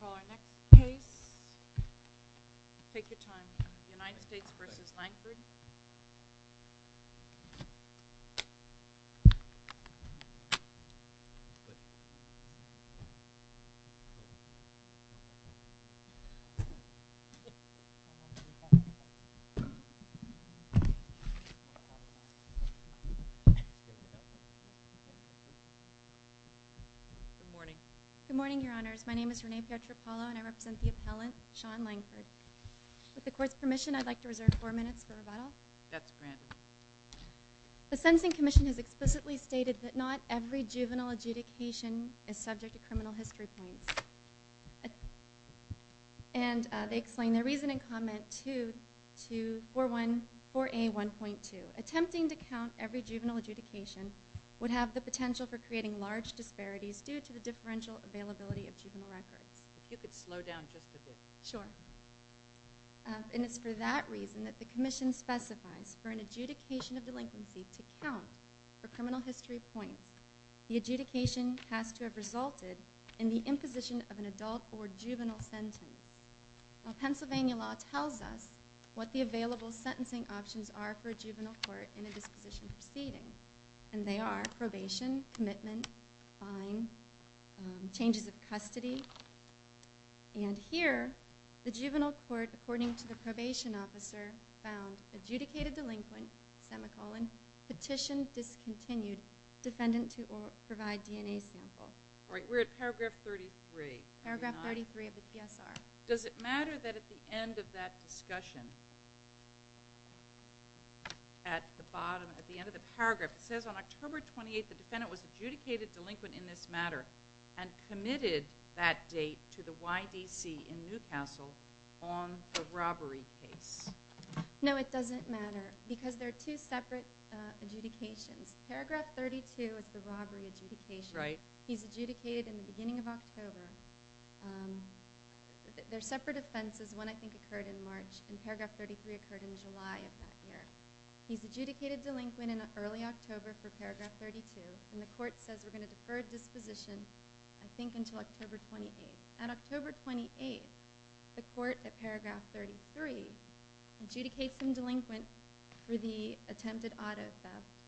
Call our next case. Take your time. United States v. Langford. Good morning, your honors. My name is Renee Pietropalo and I represent the appellant, Sean Langford. With the court's permission, I'd like to reserve four minutes for rebuttal. The Sensing Commission has explicitly stated that not every juvenile adjudication is subject to criminal history points. And they explain their reason and comment to 4A1.2. Attempting to count every juvenile adjudication would have the potential for creating large disparities due to the differential availability of juvenile records. If you could slow down just a bit. Sure. And it's for that reason that the commission specifies for an adjudication of delinquency to count for criminal history points, the adjudication has to have resulted in the imposition of an adult or juvenile sentence. Now Pennsylvania law tells us what the available sentencing options are for a juvenile court in a disposition proceeding. And they are probation, commitment, fine, changes of custody. And here, the juvenile court, according to the probation officer, found adjudicated delinquent, semicolon, petition discontinued, defendant to provide DNA sample. We're at paragraph 33. Paragraph 33 of the PSR. Does it matter that at the end of that discussion, at the bottom, at the end of the paragraph, it says on October 28, the defendant was adjudicated delinquent in this matter and committed that date to the YDC in Newcastle on the robbery case? No, it doesn't matter. Because there are two separate adjudications. Paragraph 32 is the robbery adjudication. He's adjudicated in the beginning of October. There are separate offenses. One, I think, occurred in March. And paragraph 33 occurred in July of that year. He's adjudicated delinquent in early October for paragraph 32. And the court says we're going to defer disposition, I think, until October 28. At October 28, the court at paragraph 33 adjudicates him delinquent for the attempted auto theft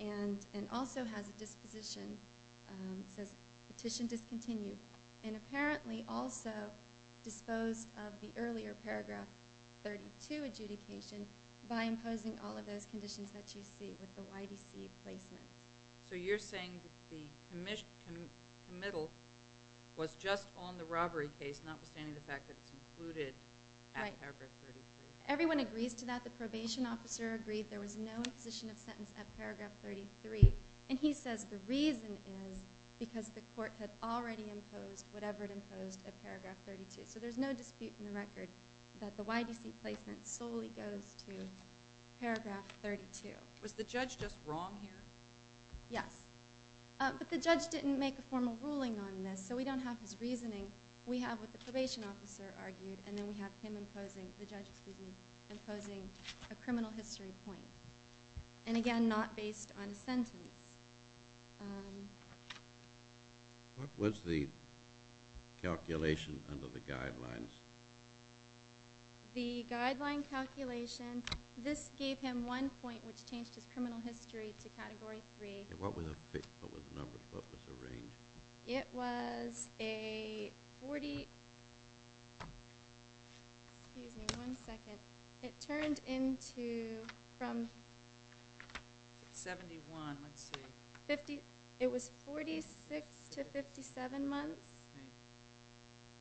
and also has a disposition. It can apparently also dispose of the earlier paragraph 32 adjudication by imposing all of those conditions that you see with the YDC placement. So you're saying the committal was just on the robbery case, notwithstanding the fact that it's included at paragraph 33? Everyone agrees to that. The probation officer agreed there was no imposition of sentence at paragraph 33. And he says the reason is because the court had already imposed whatever it imposed at paragraph 32. So there's no dispute in the record that the YDC placement solely goes to paragraph 32. Was the judge just wrong here? Yes. But the judge didn't make a formal ruling on this, so we don't have his reasoning. We have what the probation officer argued, and then we have him imposing a criminal history point. And again, not based on a sentence. What was the calculation under the guidelines? The guideline calculation, this gave him one point which changed his criminal history to category 3. What was the range? It was a 40 – excuse me, one second. It turned into from – 71, let's see. It was 46 to 57 months.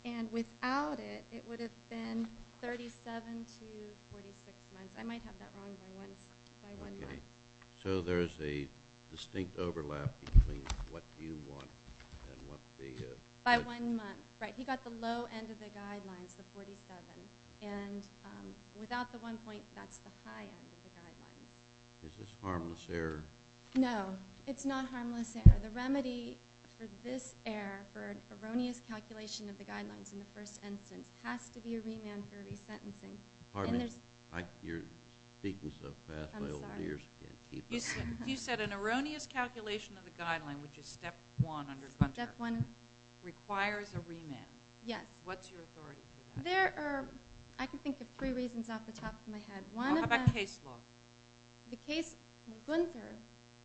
And without it, it would have been 37 to 46 months. I might have that wrong by one month. Okay. So there's a distinct overlap between what you want and what the – By one month. Right. He got the low end of the guidelines, the 47. And without the one point, that's the high end of the guidelines. Is this harmless error? No. It's not harmless error. The remedy for this error, for an erroneous calculation of the guidelines in the first instance, has to be a remand for resentencing. Pardon me. You're speaking so fast, my ears can't keep up. You said an erroneous calculation of the guideline, which is step one under Gunther, requires a remand. Yes. What's your authority for that? There are – I can think of three reasons off the top of my head. One of them – How about case law? The case – Gunther,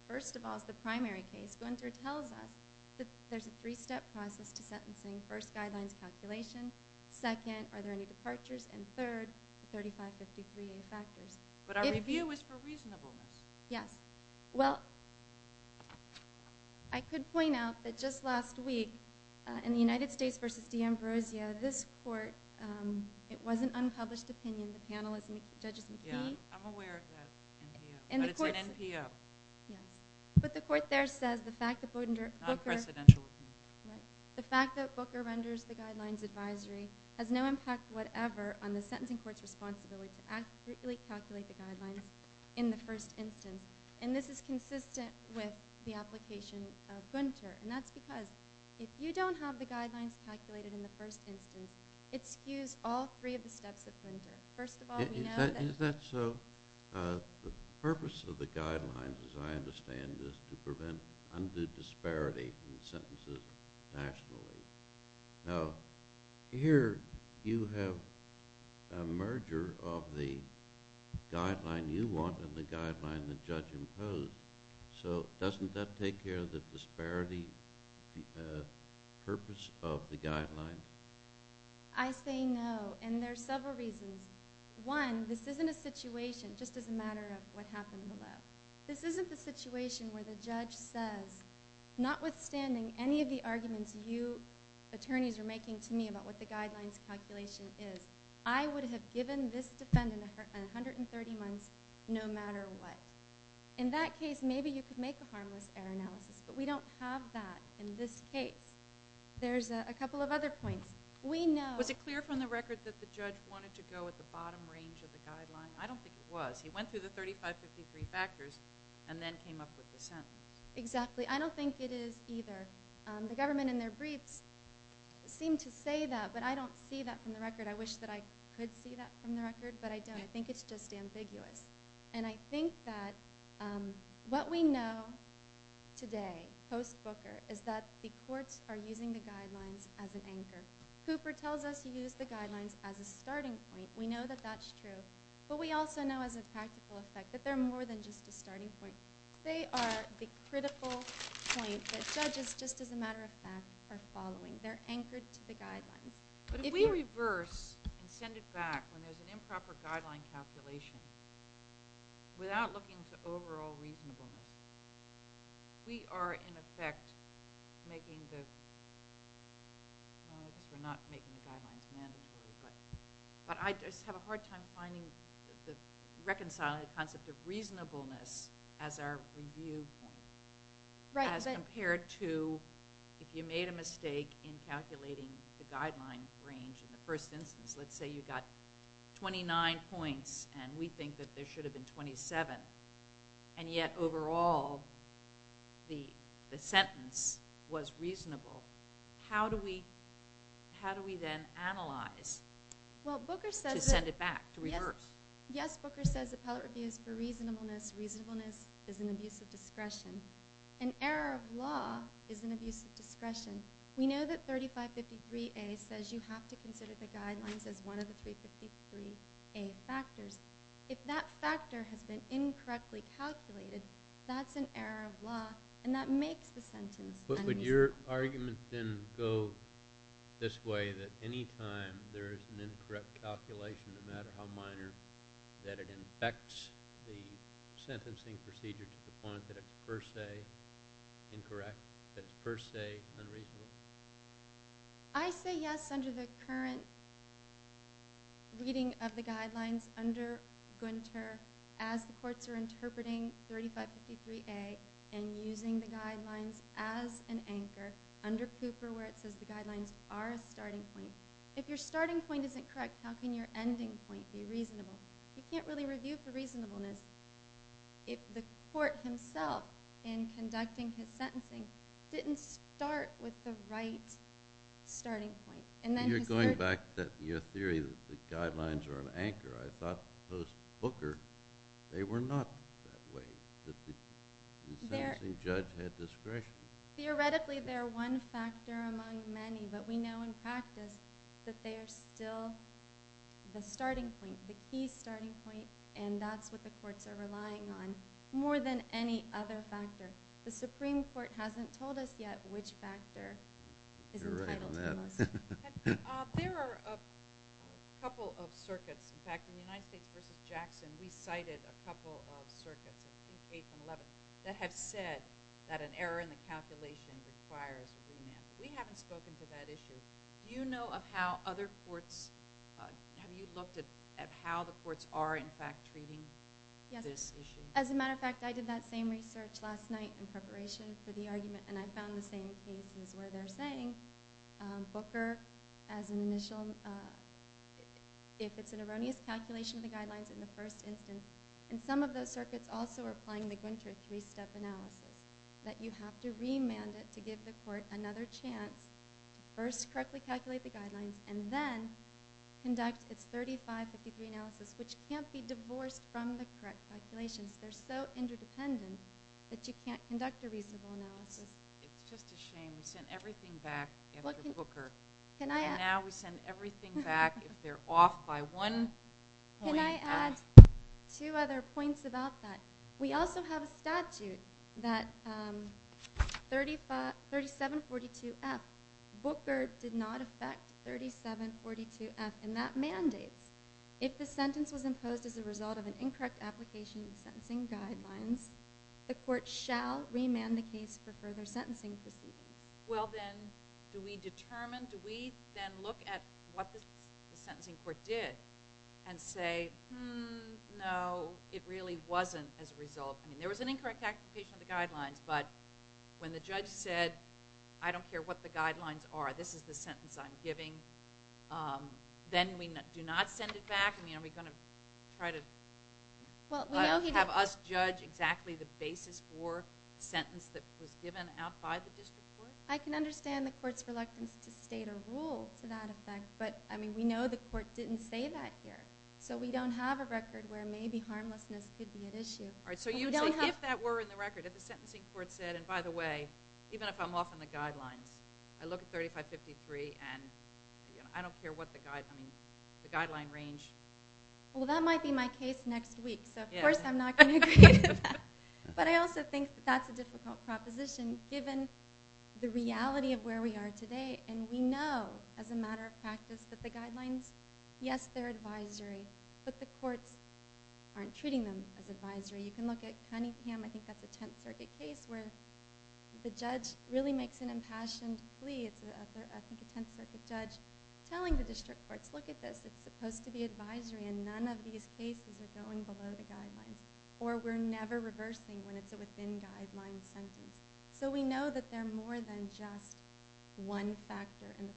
first of all, is the primary case. Gunther tells us that there's a three-step process to sentencing. First, guidelines calculation. Second, are there any departures? And third, the 3553A factors. But our review is for reasonableness. Yes. Well, I could point out that just last week, in the United States versus Di Ambrosio, this court – it was an unpublished opinion. The panel is – the judge is in key. Yeah. I'm aware of that. But it's an NPO. Yes. But the court there says the fact that Booker – Non-presidential opinion. The fact that Booker renders the guidelines advisory has no impact whatever on the sentencing court's responsibility to accurately calculate the guidelines in the first instance. And this is consistent with the application of Gunther. And that's because if you don't have the guidelines calculated in the first instance, it skews all three of the steps of Gunther. First of all, we know that – Is that so? The purpose of the guidelines, as I understand, is to prevent undue disparity in sentences nationally. Now, here you have a merger of the guideline you want and the guideline the judge imposed. So doesn't that take care of the disparity purpose of the guidelines? I say no. And there's several reasons. One, this isn't a situation – just as a matter of what happened below – this isn't a situation where the judge says, notwithstanding any of the arguments you attorneys are making to me about what the guidelines calculation is, I would have given this defendant 130 months no matter what. In that case, maybe you could make a harmless error analysis. But we don't have that in this case. There's a couple of other points. We know – Was it clear from the record that the judge wanted to go at the bottom range of the guideline? I don't think it was. He went through the 3553 factors and then came up with the sentence. Exactly. I don't think it is either. The government in their briefs seem to say that, but I don't see that from the record. I wish that I could see that from the record, but I don't. I think it's just ambiguous. And I think that what we know today, post Booker, is that the courts are using the guidelines as an anchor. Cooper tells us he used the But we also know as a practical effect that they're more than just a starting point. They are the critical point that judges, just as a matter of fact, are following. They're anchored to the guidelines. But if we reverse and send it back when there's an improper guideline calculation, without looking to overall reasonableness, we are in effect making the – I guess we're not making the guidelines mandatory, but I just have a hard time finding the – reconciling the concept of reasonableness as our review point as compared to if you made a mistake in calculating the guideline range in the first instance. Let's say you got 29 points and we think that there should have been 27, and yet overall the sentence was reasonable. How do we then analyze to send it back, to reverse? Yes, Booker says appellate review is for reasonableness. Reasonableness is an abuse of discretion. An error of law is an abuse of discretion. We know that 3553A says you have to consider the guidelines as one of the 353A factors. If that factor has been incorrectly calculated, that's an error of law, and that makes the sentence unreasonable. But would your argument then go this way, that any time there is an incorrect calculation, no matter how minor, that it infects the sentencing procedure to the point that it's per se incorrect, that it's per se unreasonable? I say yes under the current reading of the guidelines under Gunter, as the courts are an anchor, under Cooper where it says the guidelines are a starting point. If your starting point isn't correct, how can your ending point be reasonable? You can't really review for reasonableness if the court himself, in conducting his sentencing, didn't start with the right starting point. You're going back to your theory that the guidelines are an anchor. I thought post-Booker they were not that way, that the sentencing judge had discretion. Theoretically they are one factor among many, but we know in practice that they are still the starting point, the key starting point, and that's what the courts are relying on more than any other factor. The Supreme Court hasn't told us yet which factor is entitled to the most. There are a couple of circuits. In fact, in the United States v. Jackson, we cited a couple of circuits in case 11 that have said that an error in the calculation requires remand. We haven't spoken to that issue. Do you know of how other courts, have you looked at how the courts are in fact treating this issue? Yes. As a matter of fact, I did that same research last night in preparation for the argument, and I found the same cases where they're saying Booker, if it's an erroneous calculation of the guidelines in the first instance, and some of those circuits also are applying the Gunter three-step analysis, that you have to remand it to give the court another chance to first correctly calculate the guidelines and then conduct its 35-50 degree analysis, which can't be divorced from the correct calculations. They're so interdependent that you can't conduct a reasonable analysis. It's just a shame. We sent everything back after Booker, and now we send everything back if they're off by one point. Can I add two other points about that? We also have a statute that 3742F, Booker did not affect 3742F in that mandate. If the sentence was imposed as a result of an incorrect application of the sentencing guidelines, the court shall remand the case for further sentencing proceedings. Do we then look at what the sentencing court did and say, no, it really wasn't as a result. There was an incorrect application of the guidelines, but when the judge said, I don't care what the guidelines are, this is the sentence I'm giving, then we do not send it back? Are we going to try to have us judge exactly the basis for a sentence that was given out by the district court? I can understand the court's reluctance to state a rule to that effect, but we know the court didn't say that here. So we don't have a record where maybe harmlessness could be at issue. So you would say if that were in the record, if the sentencing court said, and by the way, even if I'm off on the guidelines, I look at 35-53, and I don't care what the guidelines range. Well, that might be my case next week, so of course I'm not going to agree to that. But I also think that that's a difficult proposition given the reality of where we are today, and we know as a matter of practice that the guidelines, yes, they're advisory, but the courts aren't treating them as advisory. You can look at Cunningham, I think that's a Tenth Circuit case where the judge really makes an impassioned plea. I think it's a Tenth Circuit judge telling the district courts, look at this. It's supposed to be advisory, and none of these cases are going below the guidelines, or we're never reversing when it's a within-guidelines sentence. So we know that they're more than just one factor in the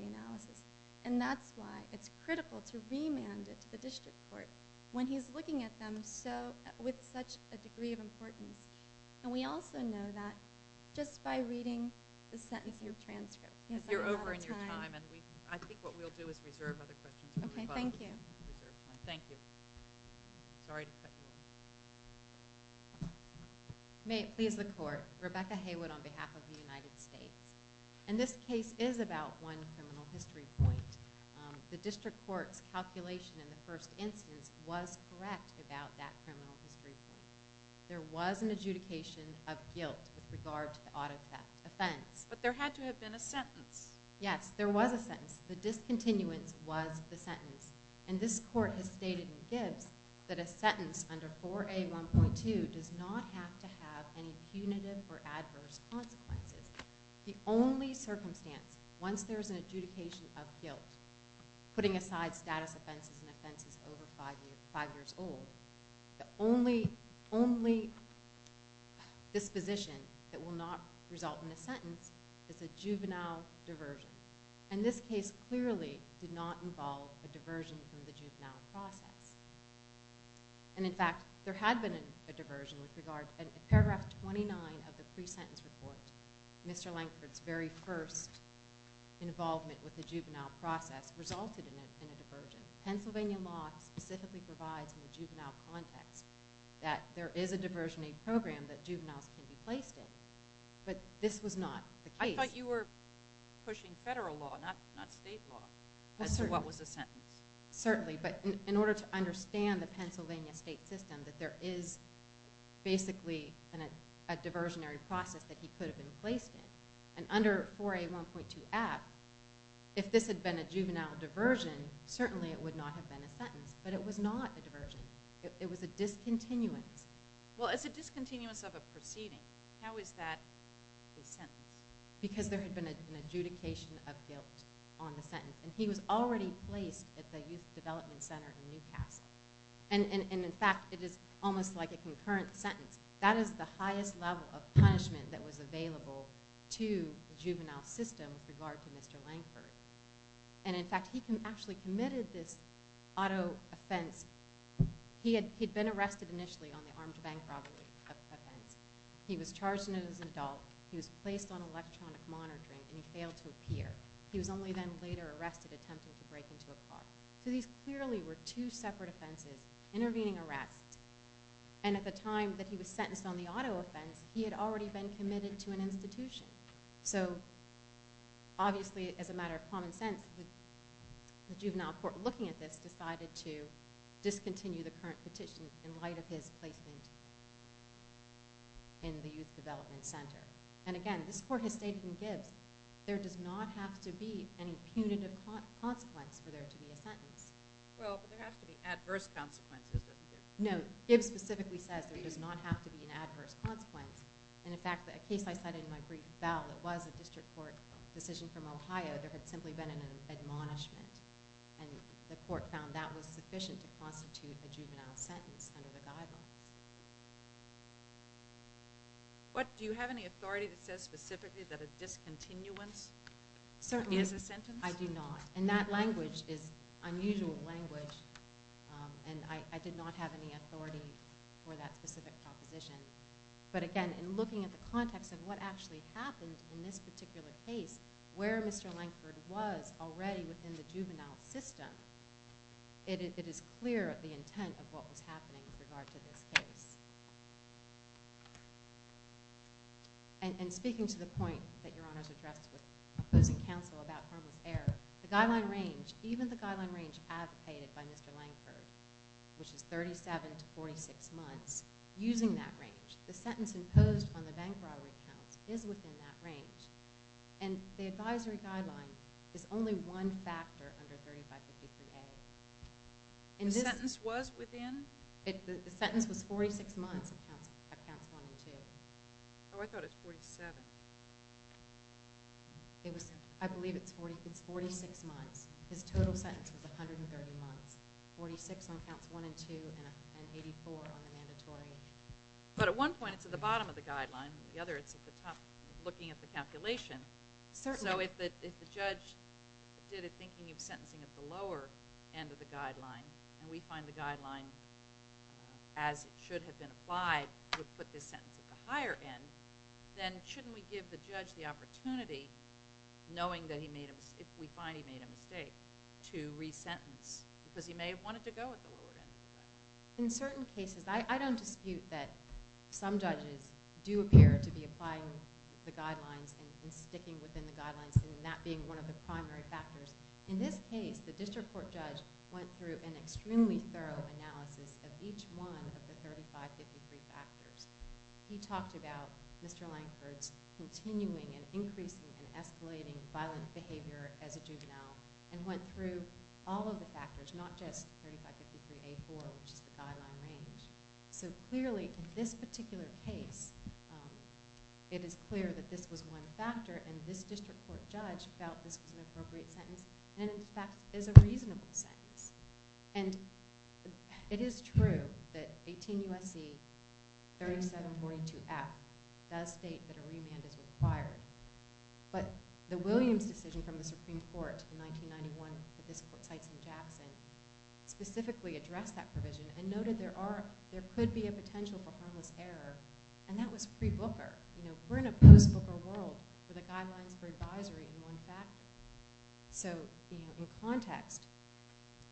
35-53 analysis, and that's why it's critical to remand it to the district court when he's looking at them with such a degree of importance. And we also know that just by reading the sentence in your transcript. You're over in your time, and I think what we'll do is reserve other questions. Okay, thank you. Thank you. Sorry to cut you off. May it please the Court. Rebecca Haywood on behalf of the United States. And this case is about one criminal history point. The district court's calculation in the first instance was correct about that criminal history point. There was an adjudication of guilt with regard to the auto theft offense. But there had to have been a sentence. Yes, there was a sentence. The discontinuance was the sentence. And this court has stated in Gibbs that a sentence under 4A.1.2 does not have to have any punitive or adverse consequences. The only circumstance, once there's an adjudication of guilt, putting aside status offenses and offenses over five years old, the only disposition that will not result in a sentence is a juvenile diversion. And this case clearly did not involve a diversion from the juvenile process. And, in fact, there had been a diversion with regard to paragraph 29 of the pre-sentence report. Mr. Lankford's very first involvement with the juvenile process resulted in a diversion. Pennsylvania law specifically provides in the juvenile context that there is a diversion aid program that juveniles can be placed in. But this was not the case. I thought you were pushing federal law, not state law, as to what was the sentence. Certainly. But in order to understand the Pennsylvania state system, that there is basically a diversionary process that he could have been placed in. And under 4A1.2F, if this had been a juvenile diversion, certainly it would not have been a sentence. But it was not a diversion. It was a discontinuance. Well, it's a discontinuance of a proceeding. How is that a sentence? Because there had been an adjudication of guilt on the sentence. And he was already placed at the Youth Development Center in Newcastle. And, in fact, it is almost like a concurrent sentence. That is the highest level of punishment that was available to the juvenile system with regard to Mr. Lankford. And, in fact, he actually committed this auto offense. He had been arrested initially on the armed bank robbery offense. He was charged as an adult. He was placed on electronic monitoring, and he failed to appear. He was only then later arrested attempting to break into a car. So these clearly were two separate offenses intervening arrests. And at the time that he was sentenced on the auto offense, he had already been committed to an institution. So, obviously, as a matter of common sense, the juvenile court, looking at this, decided to discontinue the current petition in light of his placement in the Youth Development Center. And, again, this court has stated in Gibbs there does not have to be any punitive consequence for there to be a sentence. Well, but there has to be adverse consequences, doesn't it? No. Gibbs specifically says there does not have to be an adverse consequence. And, in fact, a case I cited in my brief, Bell, it was a district court decision from Ohio. There had simply been an admonishment, and the court found that was sufficient to constitute a juvenile sentence under the guidelines. Do you have any authority that says specifically that a discontinuance is a sentence? Certainly. I do not. And that language is unusual language, and I did not have any authority for that specific proposition. But, again, in looking at the context of what actually happened in this particular case, where Mr. Lankford was already within the juvenile system, it is clear the intent of what was happening with regard to this case. And speaking to the point that Your Honor has addressed with opposing counsel about harmless error, the guideline range, even the guideline range advocated by Mr. Lankford, which is 37 to 46 months, using that range, the sentence imposed on the bank robbery counts is within that range, and the advisory guideline is only one factor under 3553A. The sentence was within? The sentence was 46 months of counts one and two. Oh, I thought it was 47. I believe it's 46 months. His total sentence was 130 months, 46 on counts one and two, and 84 on the mandatory. But at one point it's at the bottom of the guideline, and at the other it's at the top looking at the calculation. So if the judge did it thinking of sentencing at the lower end of the guideline, and we find the guideline, as it should have been applied, would put this sentence at the higher end, then shouldn't we give the judge the opportunity, knowing that if we find he made a mistake, to resentence? Because he may have wanted to go at the lower end. In certain cases, I don't dispute that some judges do appear to be applying the guidelines and sticking within the guidelines, and that being one of the primary factors. In this case, the district court judge went through an extremely thorough analysis of each one of the 3553 factors. He talked about Mr. Lankford's continuing and increasing and escalating violent behavior as a juvenile, and went through all of the factors, not just 3553A4, which is the guideline range. So clearly, in this particular case, it is clear that this was one factor, and this district court judge felt this was an appropriate sentence and, in fact, is a reasonable sentence. And it is true that 18 U.S.C. 3742F does state that a remand is required, but the Williams decision from the Supreme Court in 1991 that this court cites in Jackson specifically addressed that provision and noted there could be a potential for harmless error, and that was pre-Booker. We're in a post-Booker world where the guidelines for advisory are one factor. So in context,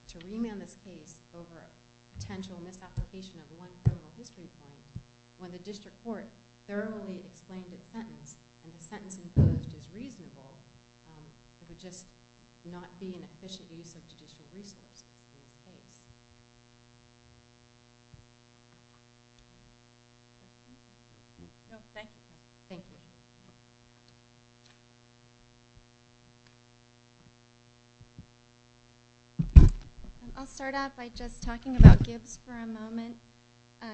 to remand this case over a potential misapplication of one criminal history point, when the district court thoroughly explained its sentence and the sentence imposed is reasonable, it would just not be an efficient use of judicial resources in this case. Questions? No, thank you. Thank you. I'll start out by just talking about Gibbs for a moment.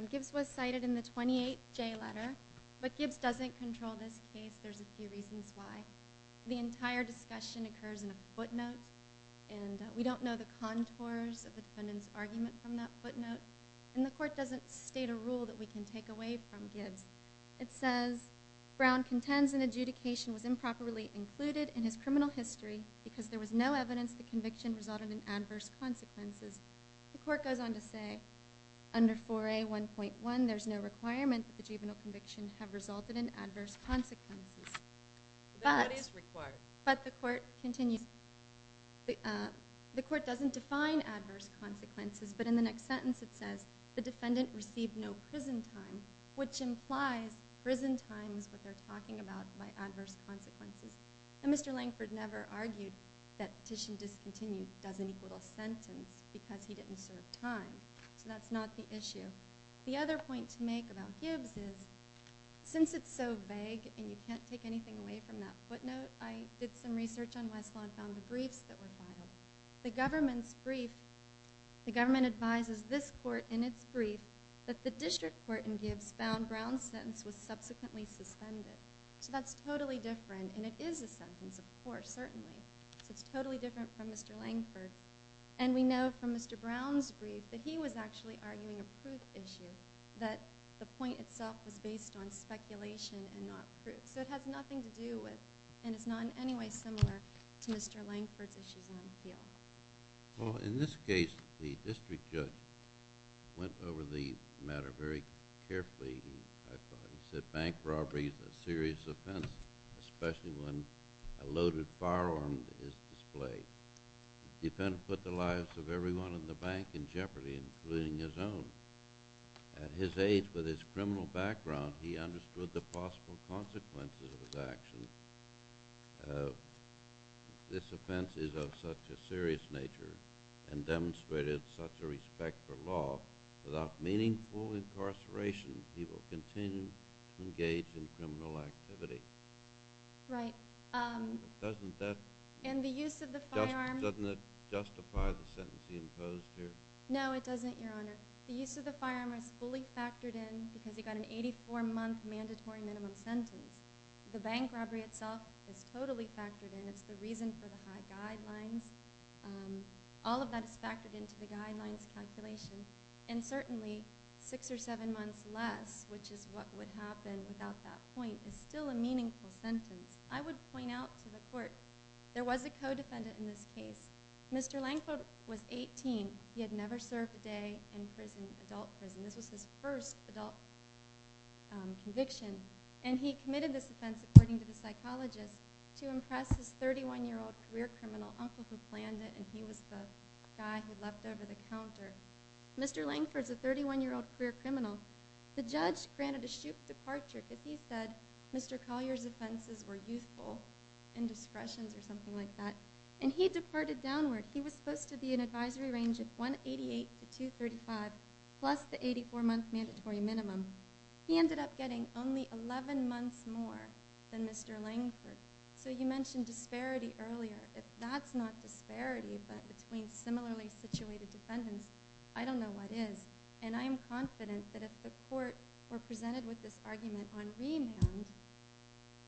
Gibbs was cited in the 28J letter, but Gibbs doesn't control this case. There's a few reasons why. The entire discussion occurs in a footnote, and we don't know the contours of the defendant's argument from that footnote, and the court doesn't state a rule that we can take away from Gibbs. It says, Brown contends an adjudication was improperly included in his criminal history because there was no evidence the conviction resulted in adverse consequences. The court goes on to say, Under 4A.1.1, there's no requirement that the juvenile conviction have resulted in adverse consequences. That is required. But the court continues, the court doesn't define adverse consequences, but in the next sentence it says, the defendant received no prison time, which implies prison time is what they're talking about by adverse consequences. And Mr. Langford never argued that petition discontinued doesn't equal a sentence because he didn't serve time. So that's not the issue. The other point to make about Gibbs is, since it's so vague and you can't take anything away from that footnote, I did some research on Westlaw and found the briefs that were filed. The government's brief, the government advises this court in its brief that the district court in Gibbs found Brown's sentence was subsequently suspended. So that's totally different, and it is a sentence, of course, certainly. So it's totally different from Mr. Langford. And we know from Mr. Brown's brief that he was actually arguing a proof issue, that the point itself was based on speculation and not proof. So it has nothing to do with, and it's not in any way similar to Mr. Langford's issues in the appeal. Well, in this case, the district judge went over the matter very carefully. He said bank robbery is a serious offense, especially when a loaded firearm is displayed. The defendant put the lives of everyone in the bank in jeopardy, including his own. At his age, with his criminal background, he understood the possible consequences of his actions. This offense is of such a serious nature and demonstrated such a respect for law. Without meaningful incarceration, he will continue to engage in criminal activity. Right. Doesn't that justify the sentence he imposed here? No, it doesn't, Your Honor. The use of the firearm is fully factored in because he got an 84-month mandatory minimum sentence. The bank robbery itself is totally factored in. It's the reason for the high guidelines. All of that is factored into the guidelines calculation. And certainly, six or seven months less, which is what would happen without that point, is still a meaningful sentence. I would point out to the court, there was a co-defendant in this case. Mr. Langford was 18. He had never served a day in adult prison. This was his first adult conviction. And he committed this offense, according to the psychologist, to impress his 31-year-old career criminal uncle who planned it, and he was the guy who left over the counter. Mr. Langford's a 31-year-old career criminal. The judge granted a shook departure if he said Mr. Collier's offenses were youthful, indiscretions, or something like that, and he departed downward. He was supposed to be in an advisory range of 188 to 235, plus the 84-month mandatory minimum. He ended up getting only 11 months more than Mr. Langford. So you mentioned disparity earlier. If that's not disparity, but between similarly situated defendants, I don't know what is. And I am confident that if the court were presented with this argument on remand,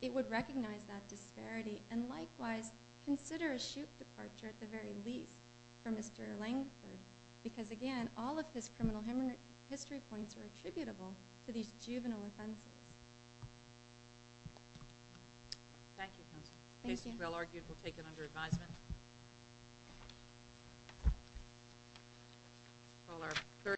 it would recognize that disparity and likewise consider a shook departure at the very least for Mr. Langford because, again, all of his criminal history points are attributable to these juvenile offenses. Thank you, counsel. The case is well argued. We'll take it under advisement.